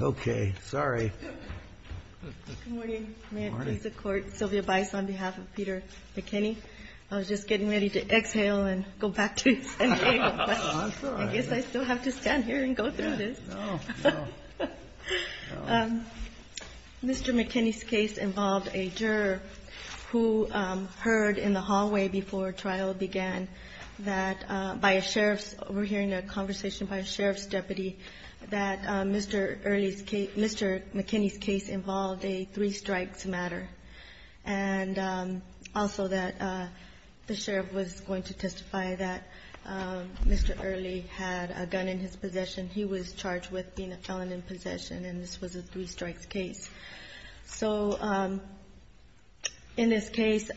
Mr. McKenney's case involved a juror who heard in the hallway before trial began that, by a sheriff's, we're hearing a conversation by a sheriff's deputy, that Mr. Early Mr. McKenney's case involved a three strikes matter and also that the sheriff was going to testify that Mr. Early had a gun in his possession. He was charged with being a felon in possession and this was a three strikes case. So in this case,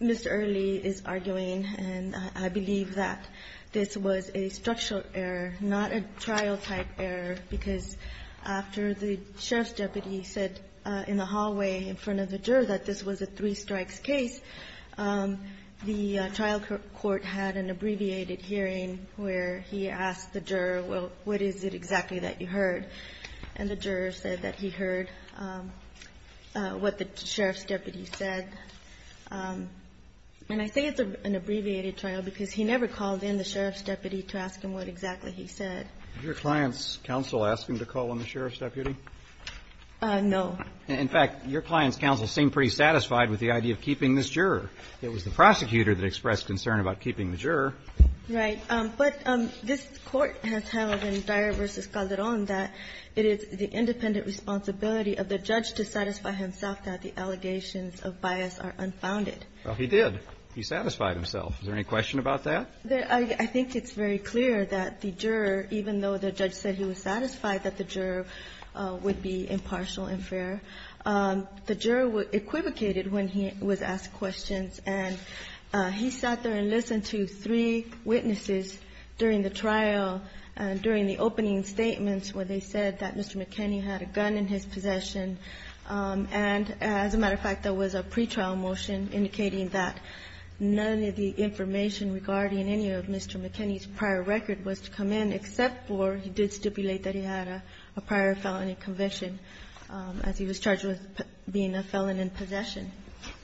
Mr. Early is arguing, and I believe that this was a structural error, not a trial-type error, because after the sheriff's deputy said in the hallway in front of the juror that this was a three strikes case, the trial court had an abbreviated hearing where he asked the juror, well, what is it exactly that you heard? And the juror said that he heard what the sheriff's deputy said, and I say it's an abbreviated trial because he never called in the sheriff's deputy to ask him what exactly he said. Your client's counsel asked him to call in the sheriff's deputy? No. In fact, your client's counsel seemed pretty satisfied with the idea of keeping this juror. It was the prosecutor that expressed concern about keeping the juror. Right. But this Court has held in Dyer v. Calderon that it is the independent responsibility of the judge to satisfy himself that the allegations of bias are unfounded. Well, he did. He satisfied himself. Is there any question about that? I think it's very clear that the juror, even though the judge said he was satisfied that the juror would be impartial and fair, the juror equivocated when he was asked questions, and he sat there and listened to three witnesses during the trial and during the opening statements where they said that Mr. McKinney had a gun in his possession. And as a matter of fact, there was a pretrial motion indicating that none of the information regarding any of Mr. McKinney's prior record was to come in, except for he did stipulate that he had a prior felony conviction as he was charged with being a felon in possession.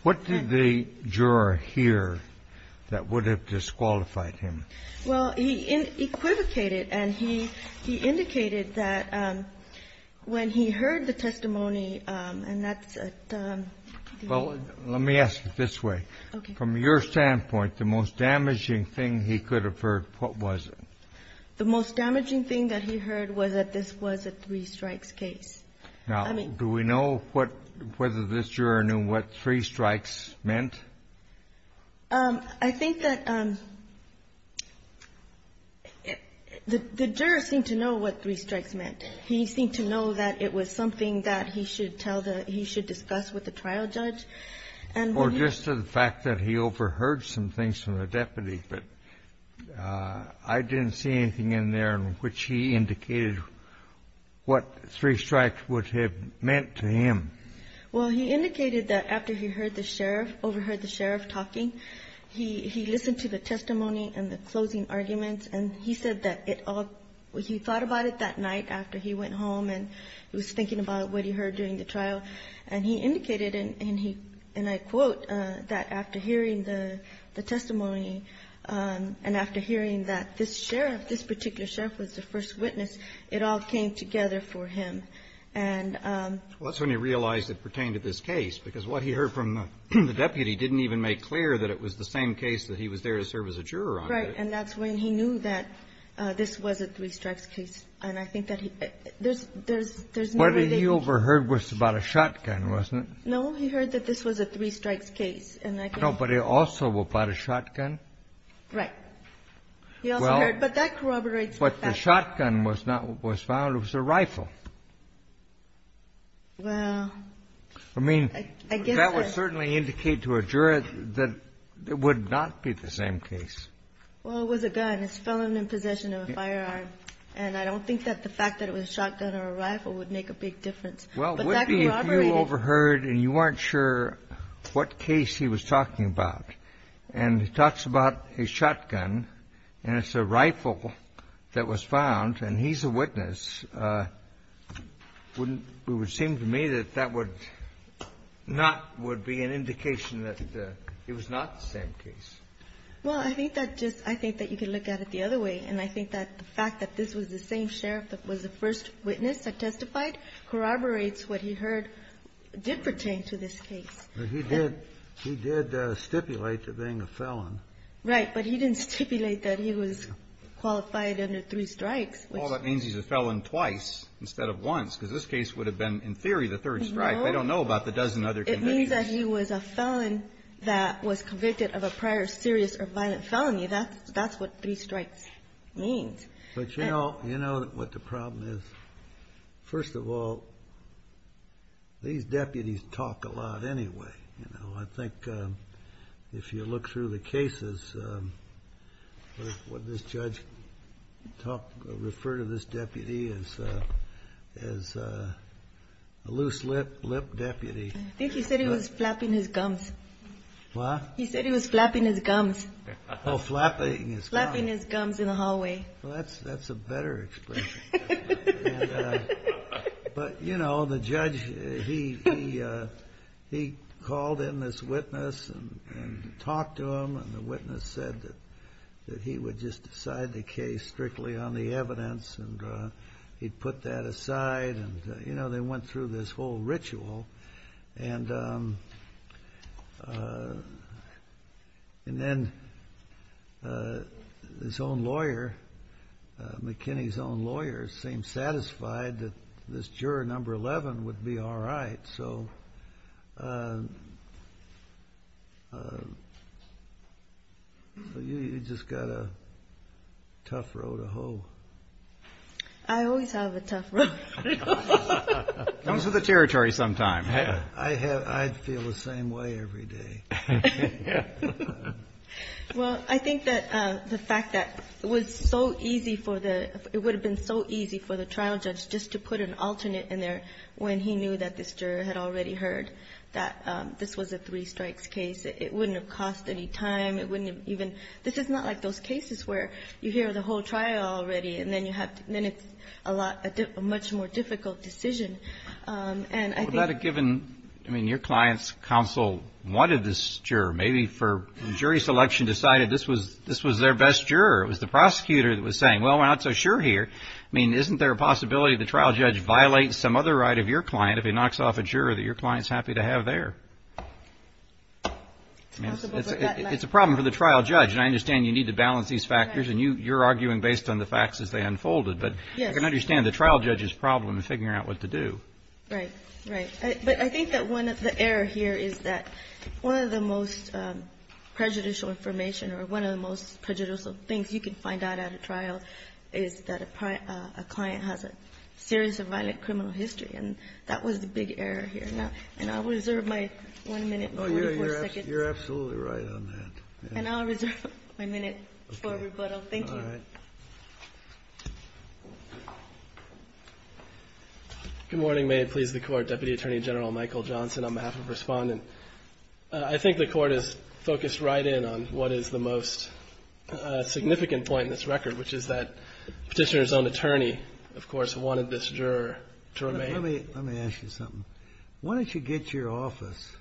What did the juror hear that would have disqualified him? Well, he equivocated, and he indicated that when he heard the testimony, and that's at the end. Well, let me ask it this way. Okay. From your standpoint, the most damaging thing he could have heard, what was it? The most damaging thing that he heard was that this was a three-strikes case. Now, do we know what, whether this juror knew what three-strikes meant? I think that the juror seemed to know what three-strikes meant. He seemed to know that it was something that he should tell the, he should discuss with the trial judge. Or just the fact that he overheard some things from the deputy, but I didn't see anything in there in which he indicated what three-strikes would have meant to him. Well, he indicated that after he heard the sheriff, overheard the sheriff talking, he listened to the testimony and the closing arguments, and he said that it all, he thought about it that night after he went home and was thinking about what he heard during the trial, and he indicated, and I quote, that after hearing the testimony and after hearing that this sheriff, this particular sheriff was the first witness, it all came together for him. And so he realized it pertained to this case, because what he heard from the deputy didn't even make clear that it was the same case that he was there to serve as a juror on. Right. And that's when he knew that this was a three-strikes case. And I think that he, there's, there's, there's no way that he. What he overheard was about a shotgun, wasn't it? He heard that this was a three-strikes case. No, but it also was about a shotgun. Right. He also heard, but that corroborates the fact. But the shotgun was not, was found, it was a rifle. Well. I mean, that would certainly indicate to a juror that it would not be the same case. Well, it was a gun. It's felon in possession of a firearm. And I don't think that the fact that it was a shotgun or a rifle would make a big difference. But that corroborated. If you overheard and you weren't sure what case he was talking about, and he talks about a shotgun and it's a rifle that was found and he's a witness, wouldn't, it would seem to me that that would not, would be an indication that it was not the same case. Well, I think that just, I think that you can look at it the other way. And I think that the fact that this was the same sheriff that was the first witness that testified corroborates what he heard did pertain to this case. But he did stipulate to being a felon. Right. But he didn't stipulate that he was qualified under three strikes. Well, that means he's a felon twice instead of once. Because this case would have been, in theory, the third strike. I don't know about the dozen other convictions. It means that he was a felon that was convicted of a prior serious or violent felony. That's what three strikes means. But you know what the problem is? First of all, these deputies talk a lot anyway. You know, I think if you look through the cases, what did this judge talk, refer to this deputy as? As a loose lip, lip deputy. I think he said he was flapping his gums. What? He said he was flapping his gums. Oh, flapping his gums. Flapping his gums in the hallway. Well, that's a better expression. But, you know, the judge, he called in this witness and talked to him, and the witness said that he would just decide the case strictly on the evidence and he'd put that aside. You know, they went through this whole ritual. And then his own lawyer, McKinney's own lawyer, seemed satisfied that this juror number 11 would be all right. So you just got a tough road to hoe. I always have a tough road. Comes with the territory sometimes. I feel the same way every day. Well, I think that the fact that it was so easy for the – it would have been so easy for the trial judge just to put an alternate in there when he knew that this juror had already heard that this was a three strikes case. It wouldn't have cost any time. It wouldn't have even – this is not like those cases where you hear the whole trial already and then it's a much more difficult decision. Would that have given – I mean, your client's counsel wanted this juror, maybe for jury selection decided this was their best juror. It was the prosecutor that was saying, well, we're not so sure here. I mean, isn't there a possibility the trial judge violates some other right of your client if he knocks off a juror that your client's happy to have there? It's a problem for the trial judge, and I understand you need to balance these factors, and you're arguing based on the facts as they unfolded. Yes. But I can understand the trial judge's problem in figuring out what to do. Right. Right. But I think that one of the errors here is that one of the most prejudicial information or one of the most prejudicial things you can find out at a trial is that a client has a serious or violent criminal history, and that was the big error here. And I'll reserve my one minute and 44 seconds. Oh, you're absolutely right on that. And I'll reserve my minute for rebuttal. Thank you. Good morning. May it please the Court. Deputy Attorney General Michael Johnson on behalf of Respondent. I think the Court is focused right in on what is the most significant point in this record, which is that Petitioner's own attorney, of course, wanted this juror to remain. Let me ask you something. Why don't you get your office,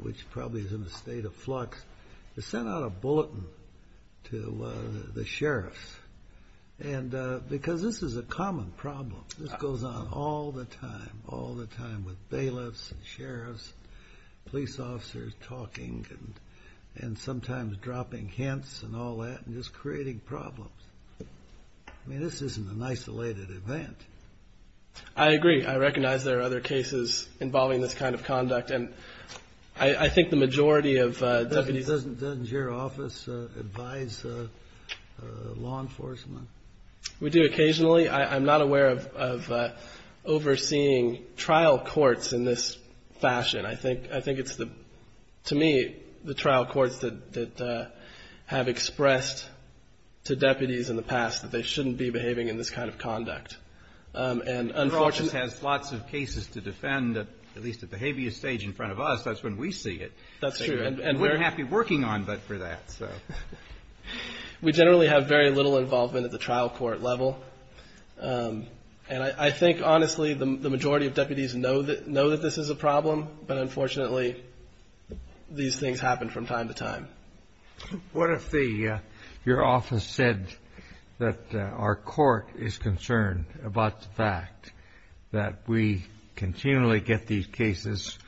which probably is in a state of flux, to send out a bulletin to the sheriffs? Because this is a common problem. This goes on all the time, all the time with bailiffs and sheriffs, police officers talking and sometimes dropping hints and all that and just creating problems. I mean, this isn't an isolated event. I agree. I recognize there are other cases involving this kind of conduct. And I think the majority of deputies. Doesn't your office advise law enforcement? We do occasionally. I'm not aware of overseeing trial courts in this fashion. I think it's, to me, the trial courts that have expressed to deputies in the past that they shouldn't be behaving in this kind of conduct. Your office has lots of cases to defend, at least at the habeas stage in front of us. That's when we see it. That's true. And we're happy working on that for that. We generally have very little involvement at the trial court level. And I think, honestly, the majority of deputies know that this is a problem. But, unfortunately, these things happen from time to time. What if your office said that our court is concerned about the fact that we continually get these cases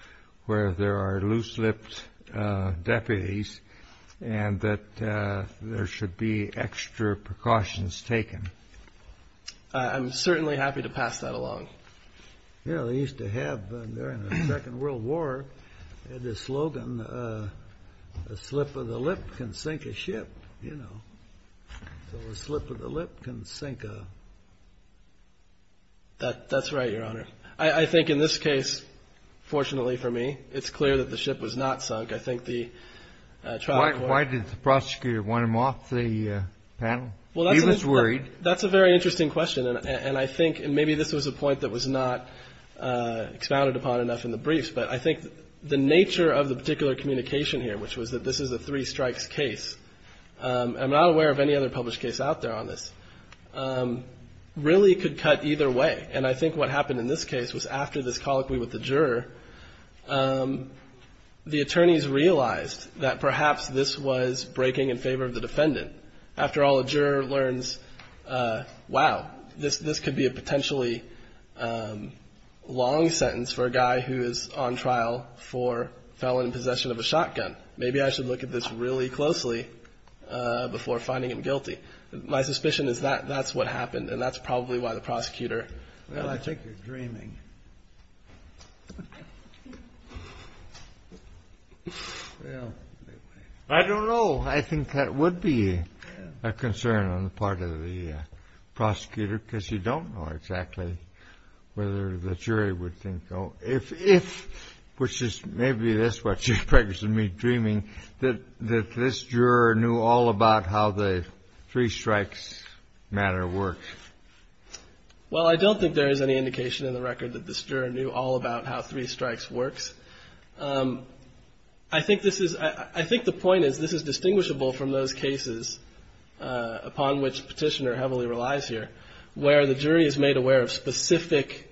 where there are loose-lipped deputies and that there should be extra precautions taken? I'm certainly happy to pass that along. You know, they used to have, during the Second World War, the slogan, a slip of the lip can sink a ship, you know. So a slip of the lip can sink a... That's right, Your Honor. I think in this case, fortunately for me, it's clear that the ship was not sunk. I think the trial court. Why did the prosecutor want him off the panel? He was worried. That's a very interesting question. And I think, and maybe this was a point that was not expounded upon enough in the briefs, but I think the nature of the particular communication here, which was that this is a three-strikes case, and I'm not aware of any other published case out there on this, really could cut either way. And I think what happened in this case was after this colloquy with the juror, after all, the juror learns, wow, this could be a potentially long sentence for a guy who is on trial for felon in possession of a shotgun. Maybe I should look at this really closely before finding him guilty. My suspicion is that that's what happened, and that's probably why the prosecutor... Well, I think you're dreaming. I don't know. I think that would be a concern on the part of the prosecutor, because you don't know exactly whether the jury would think... if, which is maybe this what you're practicing me dreaming, that this juror knew all about how the three-strikes matter worked. Well, I don't think there is any indication in the record that this juror knew all about how three-strikes works. I think this is... I think the point is this is distinguishable from those cases upon which Petitioner heavily relies here, where the jury is made aware of specific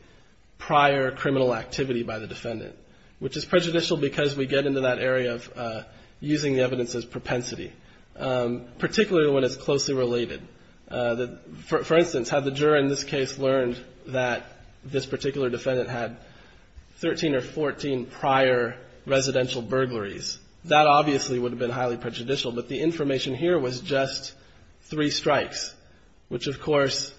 prior criminal activity by the defendant, which is prejudicial because we get into that area of using the evidence as propensity, particularly when it's closely related. For instance, had the juror in this case learned that this particular defendant had 13 or 14 prior residential burglaries, that obviously would have been highly prejudicial. But the information here was just three strikes, which of course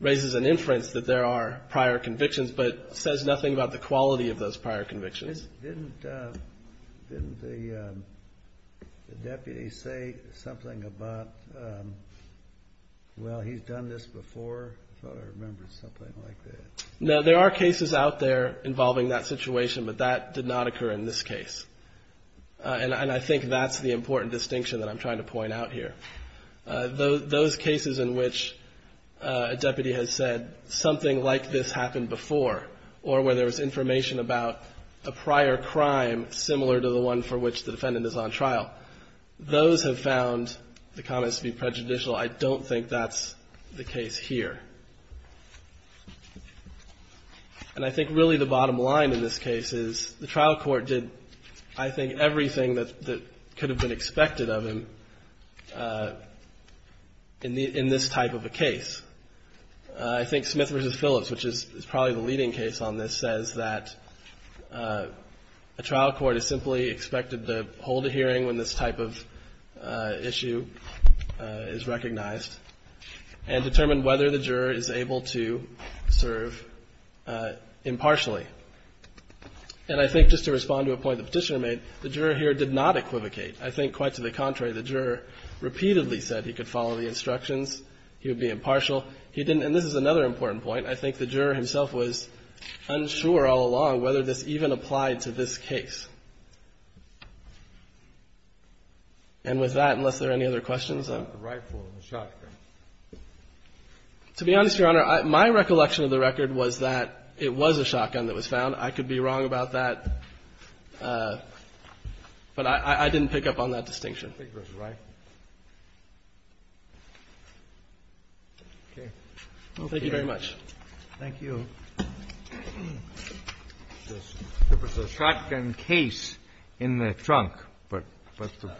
raises an inference that there are prior convictions, but says nothing about the quality of those prior convictions. Didn't the deputy say something about, well, he's done this before? I thought I remembered something like that. No, there are cases out there involving that situation, but that did not occur in this case. And I think that's the important distinction that I'm trying to point out here. Those cases in which a deputy has said something like this happened before or where there was information about a prior crime similar to the one for which the defendant is on trial, those have found the comments to be prejudicial. I don't think that's the case here. And I think really the bottom line in this case is the trial court did, I think, everything that could have been expected of him in this type of a case. I think Smith v. Phillips, which is probably the leading case on this, says that a trial court is simply expected to hold a hearing when this type of issue is recognized and determine whether the juror is able to serve impartially. And I think just to respond to a point the Petitioner made, the juror here did not equivocate. I think, quite to the contrary, the juror repeatedly said he could follow the instructions, he would be impartial, he didn't. And this is another important point. I think the juror himself was unsure all along whether this even applied to this case. And with that, unless there are any other questions. The rifle and the shotgun. To be honest, Your Honor, my recollection of the record was that it was a shotgun that was found. I could be wrong about that. But I didn't pick up on that distinction. I don't think it was a rifle. Okay. Thank you very much. Thank you. It was a shotgun case in the trunk, but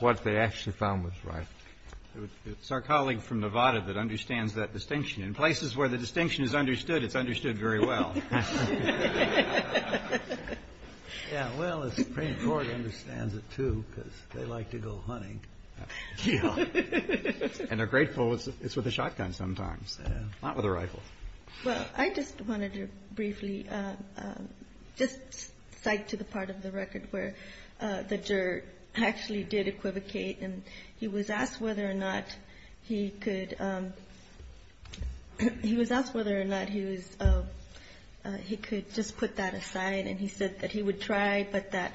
what they actually found was a rifle. It's our colleague from Nevada that understands that distinction. In places where the distinction is understood, it's understood very well. Yeah, well, the Supreme Court understands it, too, because they like to go hunting. And they're grateful it's with a shotgun sometimes, not with a rifle. Well, I just wanted to briefly just cite to the part of the record where the juror actually did equivocate. And he was asked whether or not he could just put that aside. And he said that he would try, but that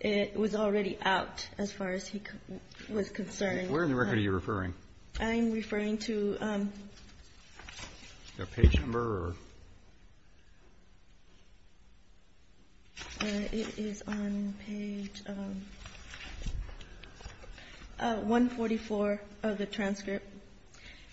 it was already out as far as he was concerned. Where in the record are you referring? I'm referring to the page number. It is on page 144 of the transcript.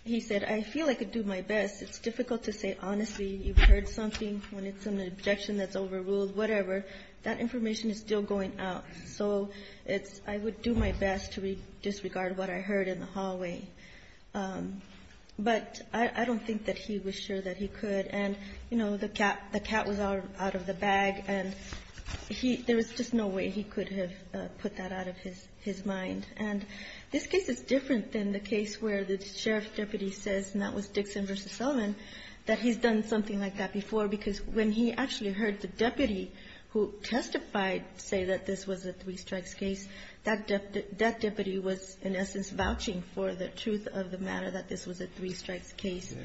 He said, I feel I could do my best. It's difficult to say honestly you've heard something when it's an objection that's overruled, whatever. That information is still going out. So it's I would do my best to disregard what I heard in the hallway. But I don't think that he was sure that he could. And, you know, the cat was out of the bag. And there was just no way he could have put that out of his mind. And this case is different than the case where the sheriff's deputy says, and that was Dixon versus Sullivan, that he's done something like that before. Because when he actually heard the deputy who testified say that this was a three strikes case, that deputy was in essence vouching for the truth of the matter that this was a three strikes case.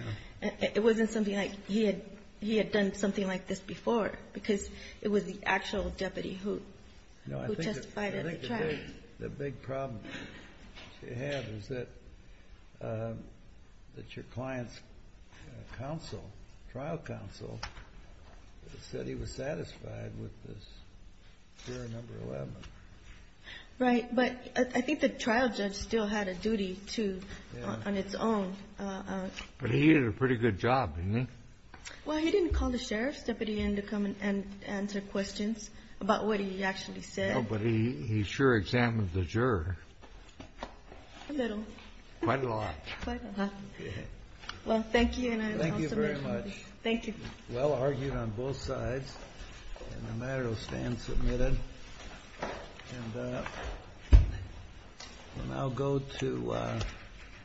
It wasn't something like he had done something like this before. Because it was the actual deputy who testified at the trial. The big problem that you have is that your client's counsel, trial counsel, said he was satisfied with this hearing number 11. Right. But I think the trial judge still had a duty to on its own. But he did a pretty good job, didn't he? Well, he didn't call the sheriff's deputy in to come and answer questions about what he actually said. Oh, but he sure examined the juror. A little. Quite a lot. Quite a lot. Okay. Well, thank you. Thank you very much. Thank you. Well argued on both sides. And the matter will stand submitted. And I'll go to.